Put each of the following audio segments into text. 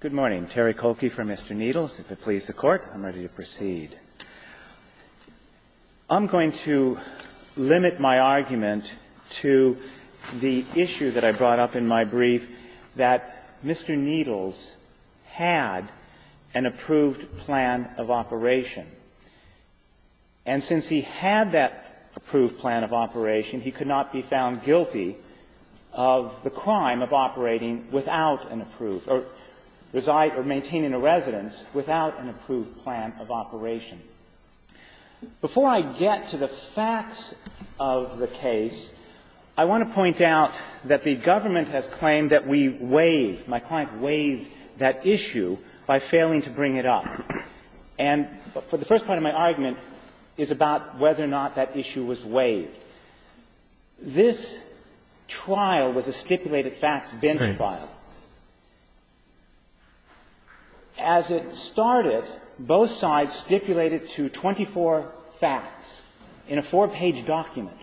Good morning. Terry Kolke for Mr. Needles. If it pleases the Court, I'm ready to proceed. I'm going to limit my argument to the issue that I brought up in my brief, that Mr. Needles had an approved plan of operation. And since he had that approved plan of operation, he could not be found guilty of the crime of operating without an approved or reside or maintaining a residence without an approved plan of operation. Before I get to the facts of the case, I want to point out that the government has claimed that we waived, my client waived, that issue by failing to bring it up. And the first part of my argument is about whether or not that issue was waived. This trial was a stipulated facts bench trial. As it started, both sides stipulated to 24 facts in a four-page document.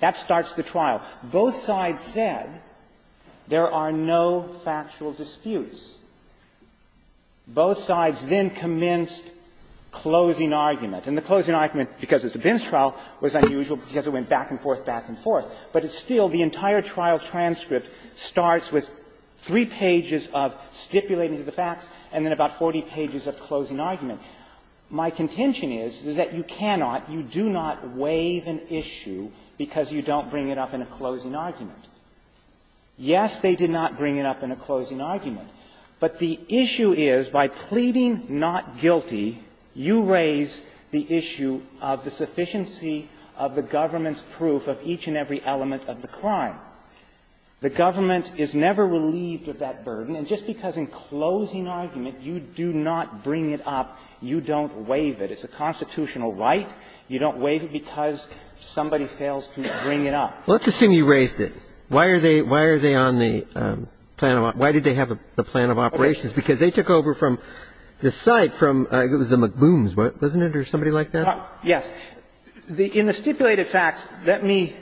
That starts the trial. Both sides said there are no factual disputes. Both sides then commenced closing argument. And the closing argument, because it's a bench trial, was unusual because it went back and forth, back and forth. But it's still, the entire trial transcript starts with three pages of stipulating to the facts and then about 40 pages of closing argument. My contention is, is that you cannot, you do not waive an issue because you don't bring it up in a closing argument. Yes, they did not bring it up in a closing argument. But the issue is, by pleading not guilty, you raise the issue of the sufficiency of the government's proof of each and every element of the crime. The government is never relieved of that burden. And just because in closing argument you do not bring it up, you don't waive it. It's a constitutional right. You don't waive it because somebody fails to bring it up. Let's assume you raised it. Why are they on the plan of operations? Because they took over from the site from, it was the McBrooms, wasn't it, or somebody like that? Yes. In the stipulated facts, let me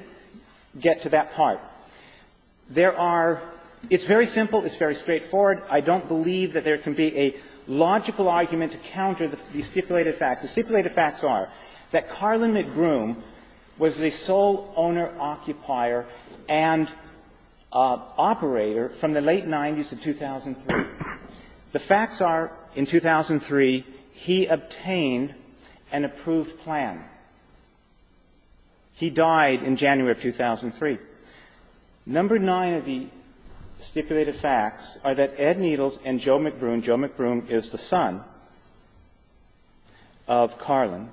get to that part. There are, it's very simple, it's very straightforward. I don't believe that there can be a logical argument to counter the stipulated facts. The stipulated facts are that Carlin McBroom was the sole owner, occupier, and operator from the late 90s to 2003. The facts are, in 2003, he obtained an approved plan. He died in January of 2003. Number nine of the stipulated facts are that Ed Needles and Joe McBroom, Joe McBroom is the son of Carlin,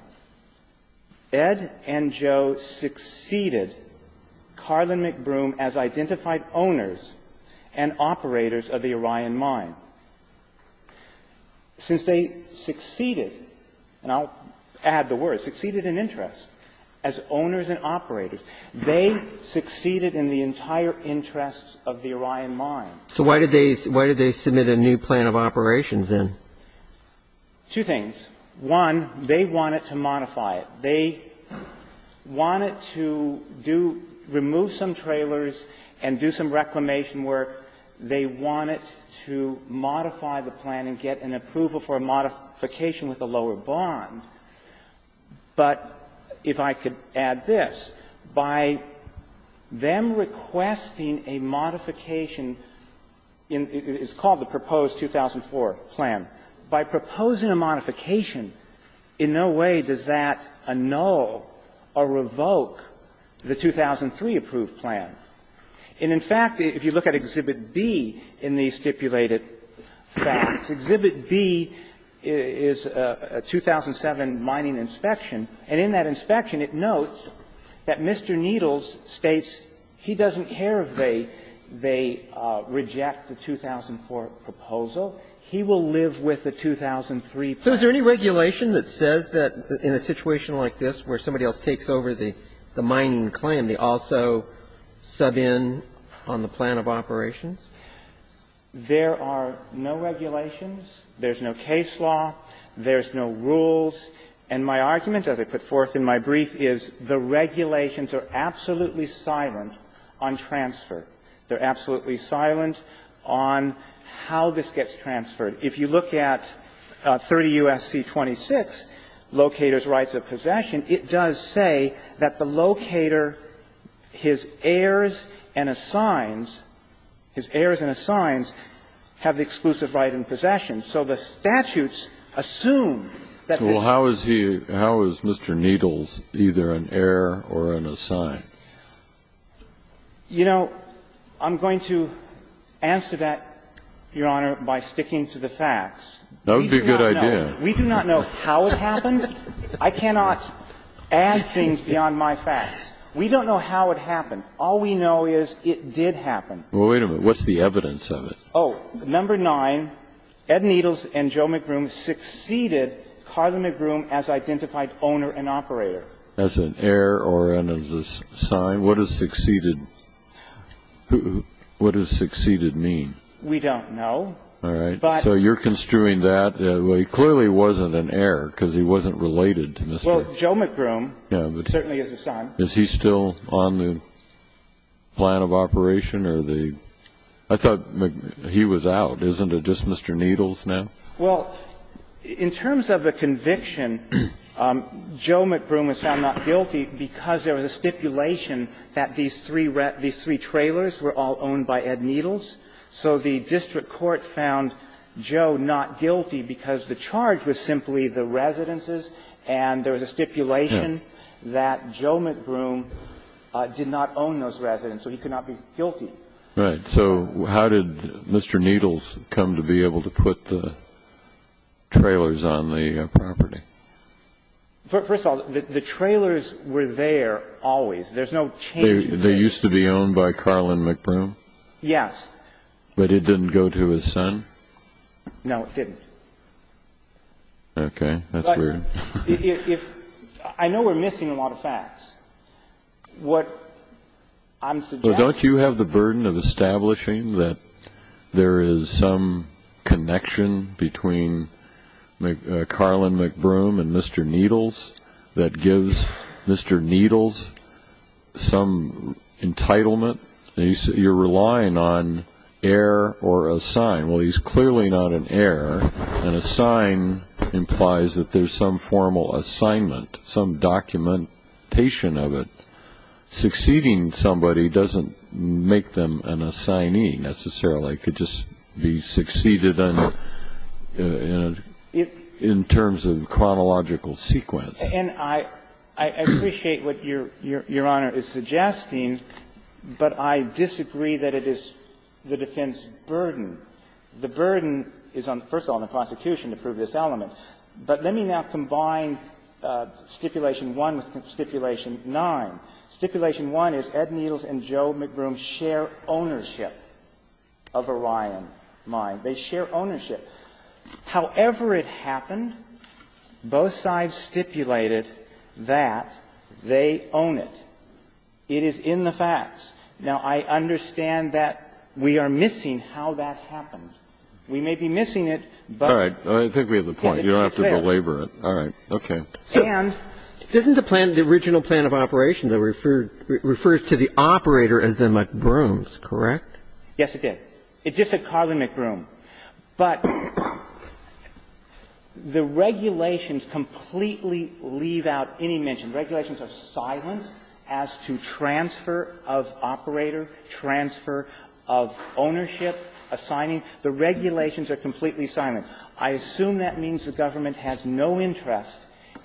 Ed and Joe succeeded Carlin McBroom as identified owners and operators of the Orion Mine. Since they succeeded, and I'll add the word, succeeded in interest as owners and operators, they succeeded in the entire interest of the Orion Mine. So why did they submit a new plan of operations, then? Two things. One, they wanted to modify it. They wanted to do, remove some trailers and do some reclamation work. They wanted to modify the plan and get an approval for a modification with a lower bond. But if I could add this, by them requesting a modification in what is called the proposed 2004 plan, by proposing a modification, in no way does that annul or revoke the 2003 approved plan. And, in fact, if you look at Exhibit B in the stipulated facts, Exhibit B is a 2007 mining inspection. And in that inspection, it notes that Mr. Needles states he doesn't care if they reject the 2004 proposal. He will live with the 2003 plan. So is there any regulation that says that in a situation like this, where somebody else takes over the mining claim, they also sub in on the plan of operations? There are no regulations. There's no case law. There's no rules. And my argument, as I put forth in my brief, is the regulations are absolutely silent on transfer. They're absolutely silent on how this gets transferred. If you look at 30 U.S.C. 26, locators' rights of possession, it does say that the locator, his heirs and assigns, his heirs and assigns have the exclusive right in possession. So the statutes assume that this is the case. So how is he – how is Mr. Needles either an heir or an assign? You know, I'm going to answer that, Your Honor, by sticking to the facts. That would be a good idea. We do not know how it happened. I cannot add things beyond my facts. We don't know how it happened. All we know is it did happen. Well, wait a minute. What's the evidence of it? Oh, number nine, Ed Needles and Joe McGroom succeeded Carla McGroom as identified owner and operator. As an heir or an assign? What does succeeded – what does succeeded mean? We don't know. All right. So you're construing that. He clearly wasn't an heir because he wasn't related to Mr. – Well, Joe McGroom certainly is an assign. Is he still on the plan of operation or the – I thought – He was out. Isn't it just Mr. Needles now? Well, in terms of the conviction, Joe McGroom was found not guilty because there was a stipulation that these three – these three trailers were all owned by Ed Needles. So the district court found Joe not guilty because the charge was simply the residences. And there was a stipulation that Joe McGroom did not own those residences, so he could not be guilty. Right. So how did Mr. Needles come to be able to put the trailers on the property? First of all, the trailers were there always. There's no change in place. They used to be owned by Carla McGroom? Yes. But it didn't go to his son? No, it didn't. Okay. That's weird. What I'm suggesting – Don't you have the burden of establishing that there is some connection between Carla McGroom and Mr. Needles that gives Mr. Needles some entitlement? You're relying on error or a sign. Well, he's clearly not an error, and a sign implies that there's some formal assignment, some documentation of it. Succeeding somebody doesn't make them an assignee necessarily. It could just be succeeded in terms of chronological sequence. And I appreciate what Your Honor is suggesting, but I disagree that it is the defense burden. The burden is, first of all, on the prosecution to prove this element. But let me now combine Stipulation 1 with Stipulation 9. Stipulation 1 is Ed Needles and Joe McGroom share ownership of Orion Mine. They share ownership. However it happened, both sides stipulated that they own it. It is in the facts. Now, I understand that we are missing how that happened. We may be missing it, but it's clear. All right. I think we have a point. You don't have to belabor it. All right. Okay. And Doesn't the plan, the original plan of operation, though, refer to the operator as the McGrooms, correct? Yes, it did. It just said Carly McGroom. But the regulations completely leave out any mention. Regulations are silent as to transfer of operator, transfer of ownership, assigning. The regulations are completely silent. I assume that means the government has no interest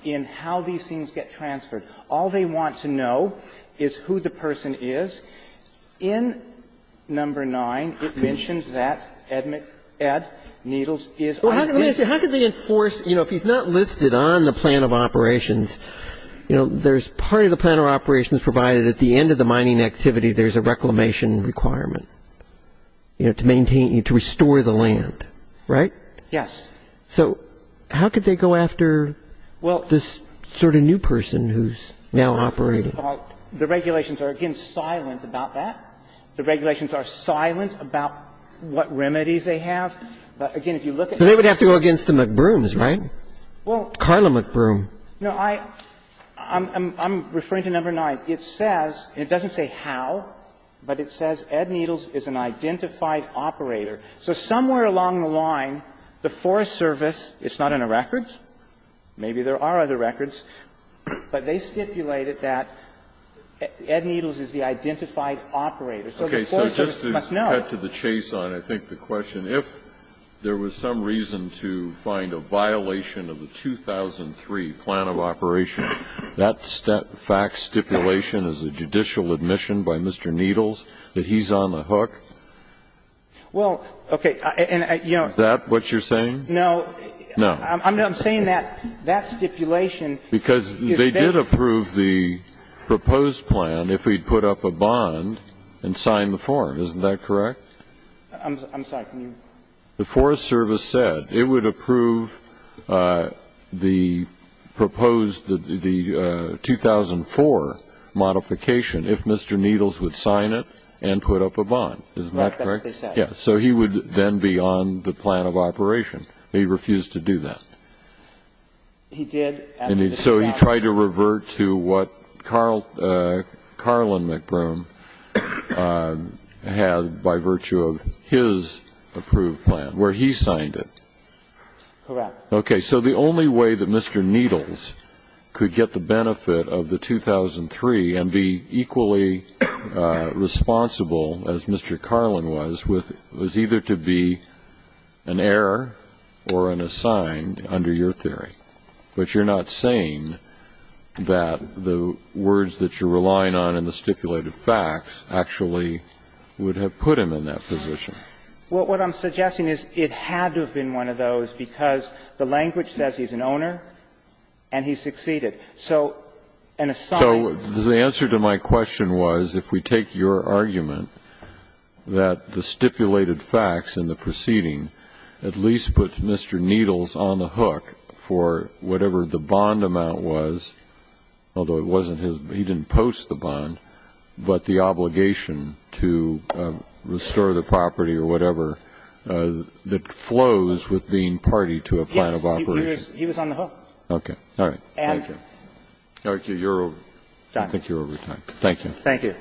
in how these things get transferred. All they want to know is who the person is. In Number 9, it mentions that Ed Needles is Well, let me ask you, how could they enforce, you know, if he's not listed on the plan of operations, you know, there's part of the plan of operations provided at the end of the mining activity, there's a reclamation requirement, you know, to maintain, to restore the land, right? Yes. So how could they go after this sort of new person who's now operating? The regulations are, again, silent about that. The regulations are silent about what remedies they have. But again, if you look at So they would have to go against the McGrooms, right? Well Carly McGroom No, I'm referring to Number 9. It says, and it doesn't say how, but it says Ed Needles is an identified operator. So somewhere along the line, the Forest Service, it's not in the records, maybe there are other records, but they stipulated that Ed Needles is the identified operator. So the Forest Service must know. Okay. So just to cut to the chase on, I think, the question, if there was some reason to find a violation of the 2003 plan of operation, that fact stipulation is a judicial admission by Mr. Needles that he's on the hook? Well, okay. And, you know Is that what you're saying? No. No. I'm saying that that stipulation Because they did approve the proposed plan if he put up a bond and signed the form. Isn't that correct? I'm sorry. The Forest Service said it would approve the proposed, the 2004 modification if Mr. Needles would sign it and put up a bond. Isn't that correct? That's what they said. Yes. So he would then be on the plan of operation. He refused to do that. He did. And so he tried to revert to what Carl Carlin McBroom had by virtue of his approved plan, where he signed it. Correct. Okay. So the only way that Mr. Needles could get the benefit of the 2003 and be equally responsible as Mr. Carlin was, was either to be an error or an assigned under your theory. But you're not saying that the words that you're relying on in the stipulated facts actually would have put him in that position. Well, what I'm suggesting is it had to have been one of those, because the language says he's an owner and he succeeded. So an assigned under your theory would have put him in that position. So the answer to my question was, if we take your argument that the stipulated facts in the proceeding at least put Mr. Needles on the hook for whatever the bond amount was, although it wasn't his, he didn't post the bond, but the obligation to restore the property or whatever that flows with being party to a plan of operation. Yes. He was on the hook. Okay. All right. Thank you. Thank you. You're over. I think you're over time. Thank you. Thank you.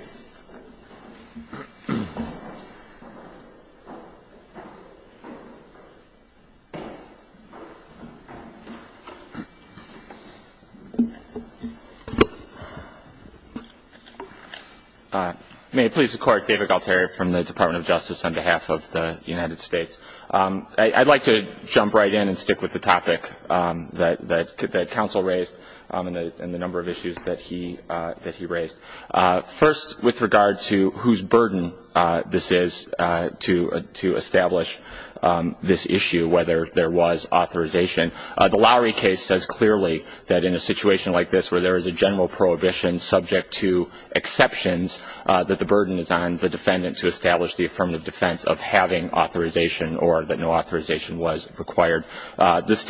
May it please the Court, David Galtieri from the Department of Justice on behalf of the United States. I'd like to jump right in and stick with the topic that counsel raised and the number of issues that he raised. First, with regard to whose burden this is to establish this issue, whether there was authorization. The Lowry case says clearly that in a situation like this, where there is a general prohibition subject to exceptions, that the burden is on the defendant to establish the affirmative defense of having authorization or that no authorization was required. This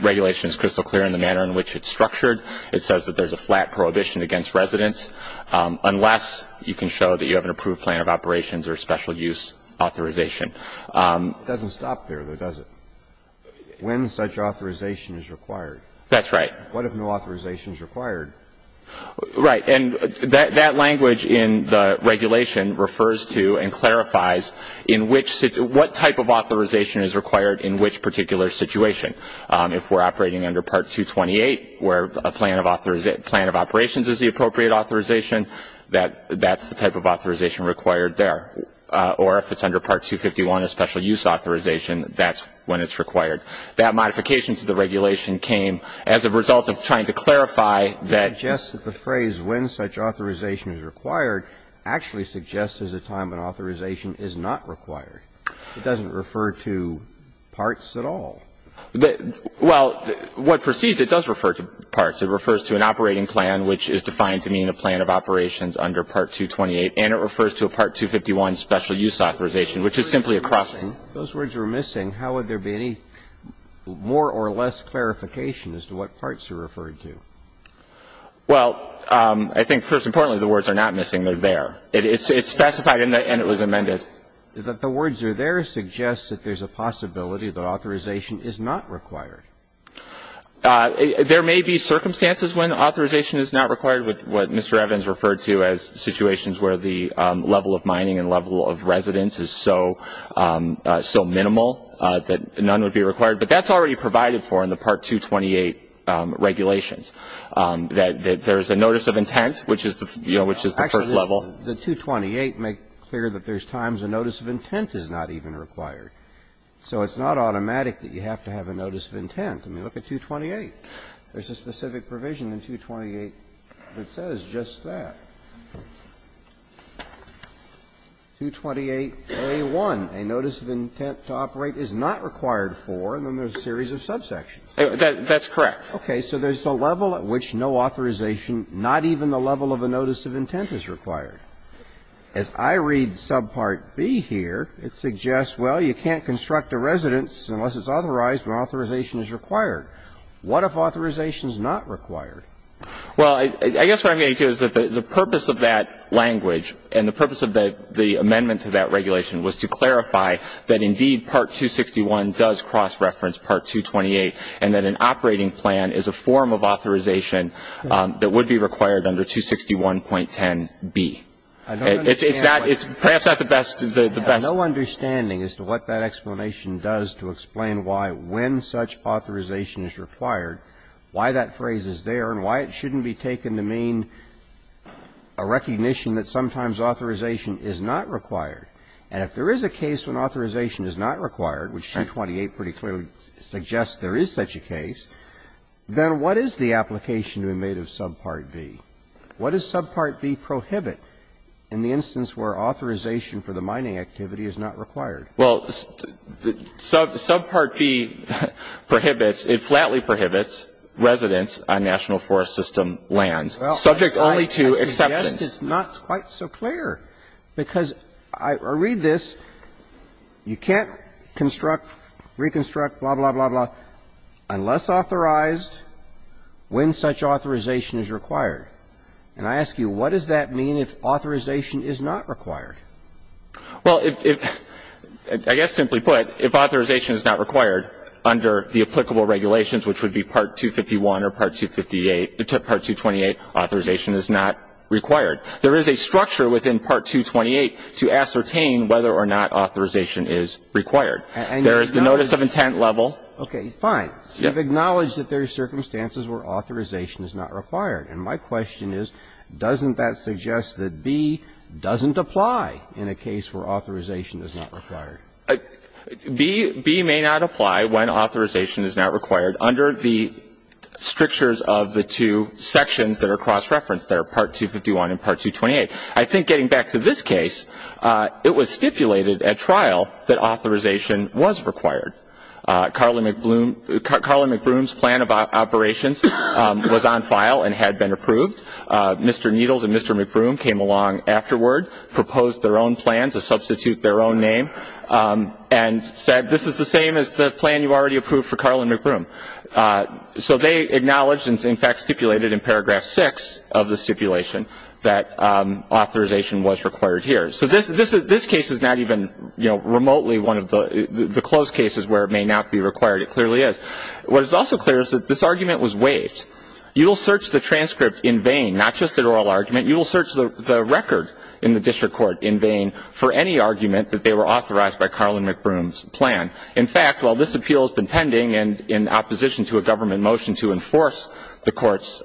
regulation is crystal clear in the manner in which it's structured. It says that there's a flat prohibition against residence unless you can show that you have an approved plan of operations or special use authorization. It doesn't stop there, though, does it? When such authorization is required. That's right. What if no authorization is required? Right. And that language in the regulation refers to and clarifies in which – what type of authorization is required in which particular situation. If we're operating under Part 228, where a plan of operations is the appropriate authorization, that's the type of authorization required there. Or if it's under Part 251, a special use authorization, that's when it's required. That modification to the regulation came as a result of trying to clarify that – It suggests that the phrase, when such authorization is required, actually suggests there's a time when authorization is not required. It doesn't refer to parts at all. Well, what proceeds, it does refer to parts. It refers to an operating plan which is defined to mean a plan of operations under Part 228. And it refers to a Part 251 special use authorization, which is simply a crossing. If those words were missing, how would there be any more or less clarification as to what parts are referred to? Well, I think, first and foremost, the words are not missing. They're there. It's specified and it was amended. But the words are there suggests that there's a possibility that authorization is not required. There may be circumstances when authorization is not required, with what Mr. Evans referred to as situations where the level of mining and level of residence is so minimal that none would be required. But that's already provided for in the Part 228 regulations, that there's a notice of intent, which is, you know, which is the first level. The 228 make clear that there's times a notice of intent is not even required. So it's not automatic that you have to have a notice of intent. I mean, look at 228. There's a specific provision in 228 that says just that. 228a1, a notice of intent to operate is not required for, and then there's a series of subsections. That's correct. Okay. So there's a level at which no authorization, not even the level of a notice of intent, is required. As I read subpart B here, it suggests, well, you can't construct a residence unless it's authorized when authorization is required. What if authorization is not required? Well, I guess what I'm getting to is that the purpose of that language and the purpose of the amendment to that regulation was to clarify that, indeed, Part 261 does cross-reference Part 228 and that an operating plan is a form of authorization that would be required under 261.10b. It's that – it's perhaps not the best, the best. I have no understanding as to what that explanation does to explain why, when such authorization is required, why that phrase is there and why it shouldn't be taken to mean a recognition that sometimes authorization is not required. And if there is a case when authorization is not required, which 228 pretty clearly suggests there is such a case, then what is the application to be made of subpart B? What does subpart B prohibit in the instance where authorization for the mining activity is not required? Well, subpart B prohibits, it flatly prohibits residence on National Forest System lands, subject only to exceptions. Well, I guess it's not quite so clear, because I read this, you can't construct, reconstruct, blah, blah, blah, blah, unless authorized when such authorization is required. And I ask you, what does that mean if authorization is not required? Well, if – I guess simply put, if authorization is not required under the applicable regulations, which would be Part 251 or Part 258 – Part 228, authorization is not required. There is a structure within Part 228 to ascertain whether or not authorization is required. There is the notice of intent level. Okay, fine. You've acknowledged that there are circumstances where authorization is not required. And my question is, doesn't that suggest that B doesn't apply in a case where authorization is not required? B may not apply when authorization is not required under the strictures of the two sections that are cross-referenced, that are Part 251 and Part 228. I think getting back to this case, it was stipulated at trial that authorization was required. Karlyn McBroom's plan of operations was on file and had been approved. Mr. Needles and Mr. McBroom came along afterward, proposed their own plan to substitute their own name, and said, this is the same as the plan you already approved for Karlyn McBroom. So they acknowledged, and in fact stipulated in paragraph 6 of the stipulation, that authorization was required here. So this case is not even, you know, remotely one of the closed cases where it may not be required. It clearly is. What is also clear is that this argument was waived. You will search the transcript in vain, not just an oral argument. You will search the record in the district court in vain for any argument that they were authorized by Karlyn McBroom's plan. In fact, while this appeal has been pending and in opposition to a government motion to enforce the court's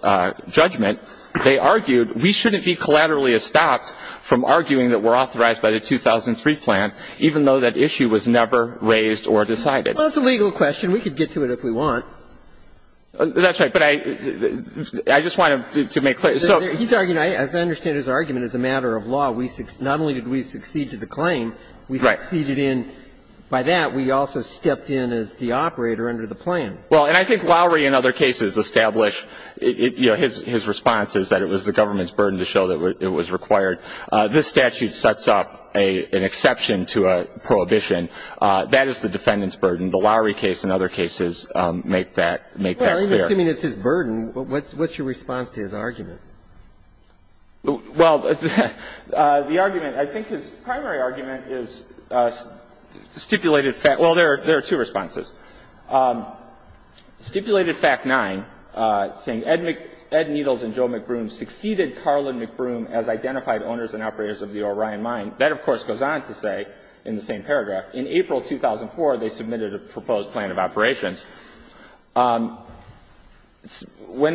judgment, they argued we shouldn't be collaterally stopped from arguing that we're authorized by the 2003 plan, even though that issue was never raised or decided. Well, it's a legal question. We could get to it if we want. That's right. But I just wanted to make clear. So he's arguing, as I understand his argument, as a matter of law, we not only did we succeed to the claim, we succeeded in by that, we also stepped in as the operator under the plan. Well, and I think Lowry in other cases established, you know, his response is that it was the government's burden to show that it was required. This statute sets up an exception to a prohibition. That is the defendant's burden. The Lowry case and other cases make that clear. Well, assuming it's his burden, what's your response to his argument? Well, the argument, I think his primary argument is stipulated fact — well, there are two responses. Stipulated fact 9, saying Ed Needles and Joe McBroom succeeded Carlin McBroom as identified owners and operators of the Orion Mine. That, of course, goes on to say in the same paragraph, in April 2004, they submitted a proposed plan of operations. When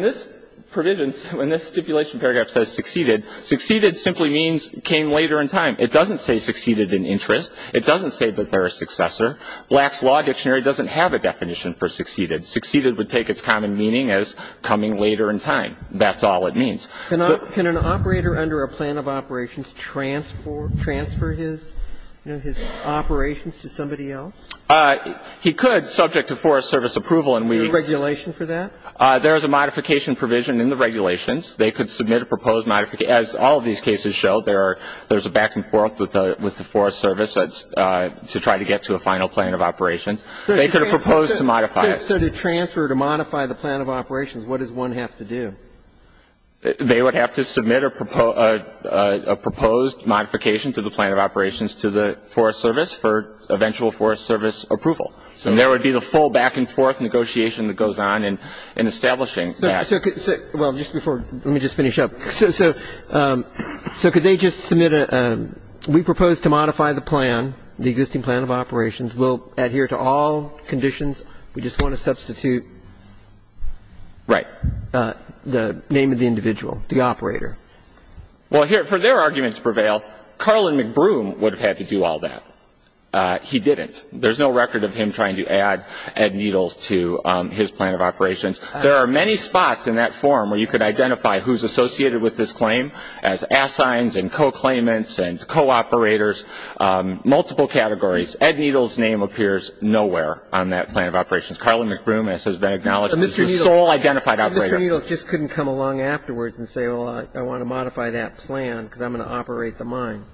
this provision — when this stipulation paragraph says succeeded, succeeded simply means came later in time. It doesn't say succeeded in interest. It doesn't say that they're a successor. Black's Law Dictionary doesn't have a definition for succeeded. Succeeded would take its common meaning as coming later in time. That's all it means. But — Can an operator under a plan of operations transfer his, you know, his operations to somebody else? He could, subject to Forest Service approval, and we — Is there a regulation for that? There is a modification provision in the regulations. They could submit a proposed modification, as all of these cases show. There are — there's a back-and-forth with the Forest Service to try to get to a final plan of operations. They could propose to modify it. So to transfer, to modify the plan of operations, what does one have to do? They would have to submit a proposed modification to the plan of operations to the Forest Service for eventual Forest Service approval. So there would be the full back-and-forth negotiation that goes on in establishing that. So could — well, just before — let me just finish up. So could they just submit a — we propose to modify the plan, the existing plan of operations. We'll adhere to all conditions. We just want to substitute — Right. — the name of the individual, the operator. Well, here, for their argument to prevail, Carlin McBroom would have had to do all that. He didn't. There's no record of him trying to add needles to his plan of operations. There are many spots in that form where you could identify who's associated with this claim as assigns and co-claimants and co-operators, multiple categories. Ed Needles' name appears nowhere on that plan of operations. Carlin McBroom, as has been acknowledged, is the sole identified operator. So Mr. Needles just couldn't come along afterwards and say, well, I want to modify that plan because I'm going to operate the mine?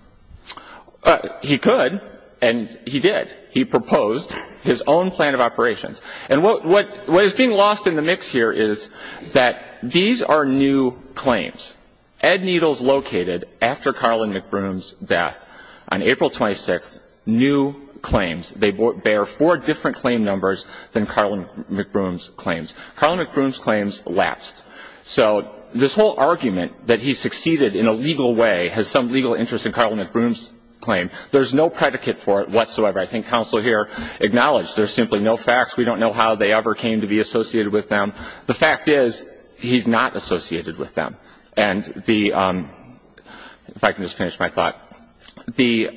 He could, and he did. He proposed his own plan of operations. And what is being lost in the mix here is that these are new claims. Ed Needles located, after Carlin McBroom's death, on April 26th, new claims. They bear four different claim numbers than Carlin McBroom's claims. Carlin McBroom's claims lapsed. So this whole argument that he succeeded in a legal way has some legal interest in Carlin McBroom's claim. There's no predicate for it whatsoever. I think counsel here acknowledged there's simply no facts. We don't know how they ever came to be associated with them. The fact is, he's not associated with them. And the, if I can just finish my thought, the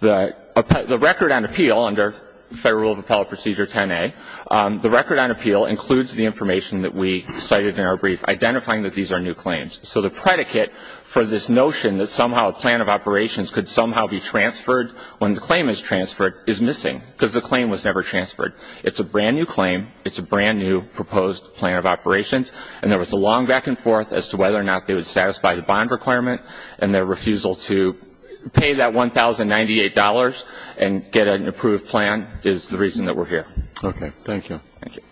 record on appeal under Federal Rule of Appellate Procedure 10A, the record on appeal includes the information that we cited in our brief, identifying that these are new claims. So the predicate for this notion that somehow a plan of operations could somehow be transferred when the claim is transferred is missing, because the claim was never transferred. It's a brand-new claim. It's a brand-new proposed plan of operations. And there was a long back and forth as to whether or not they would satisfy the bond requirement. And their refusal to pay that $1,098 and get an approved plan is the reason that we're here. Okay. Thank you. Thank you.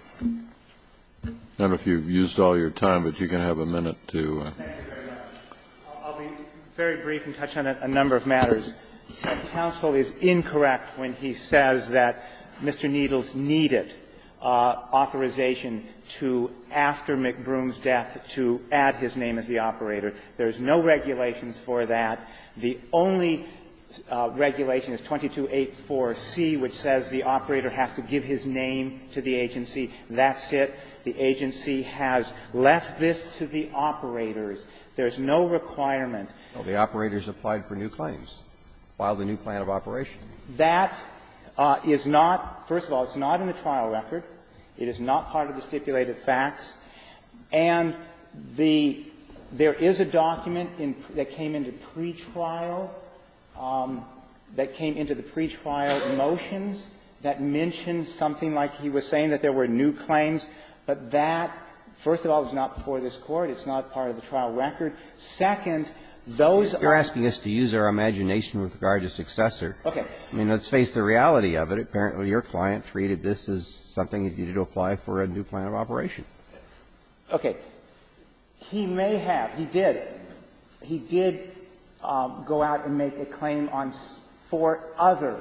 I don't know if you've used all your time, but you can have a minute to ---- Thank you very much. I'll be very brief and touch on a number of matters. Counsel is incorrect when he says that Mr. Needles needed authorization to, after McBroom's death, to add his name as the operator. There's no regulations for that. The only regulation is 2284C, which says the operator has to give his name to the agency. That's it. The agency has left this to the operators. There's no requirement. Well, the operators applied for new claims, filed a new plan of operation. That is not ---- first of all, it's not in the trial record. It is not part of the stipulated facts. And the ---- there is a document in ---- that came into pretrial, that came into the pretrial motions that mentioned something like he was saying, that there were new claims. But that, first of all, is not before this Court. It's not part of the trial record. Second, those are ---- You're asking us to use our imagination with regard to successor. Okay. I mean, let's face the reality of it. Apparently, your client treated this as something that you needed to apply for a new plan of operation. Okay. He may have. He did. He did go out and make a claim on four other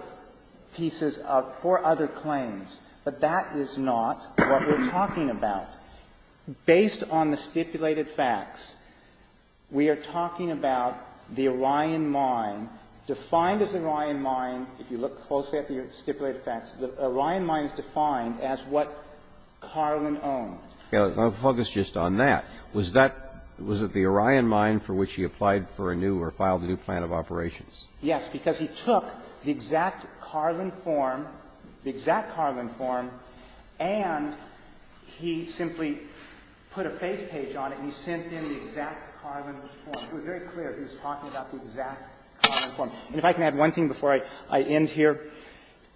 pieces of ---- four other claims. But that is not what we're talking about. Based on the stipulated facts, we are talking about the Orion Mine, defined as the Orion Mine, if you look closely at the stipulated facts, the Orion Mine is defined as what Carlin owned. Okay. I'll focus just on that. Was that ---- was it the Orion Mine for which he applied for a new or filed a new plan of operations? Yes. Because he took the exact Carlin form, the exact Carlin form, and he simply took the exact Carlin form, and he simply put a face page on it, and he sent in the exact Carlin form. It was very clear he was talking about the exact Carlin form. And if I can add one thing before I end here,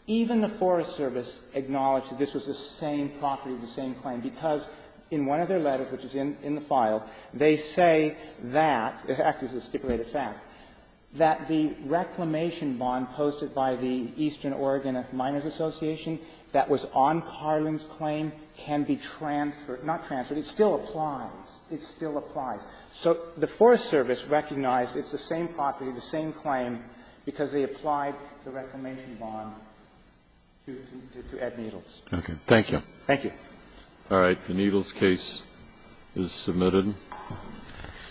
even the Forest Service acknowledged that this was the same property, the same claim, because in one of their letters, which is in the file, they say that ---- this is actually a stipulated fact ---- that the reclamation bond posted by the Eastern Oregon Miners Association that was on Carlin's not transferred, it still applies. It still applies. So the Forest Service recognized it's the same property, the same claim, because they applied the reclamation bond to Ed Needles. Okay. Thank you. Thank you. All right. The Needles case is submitted.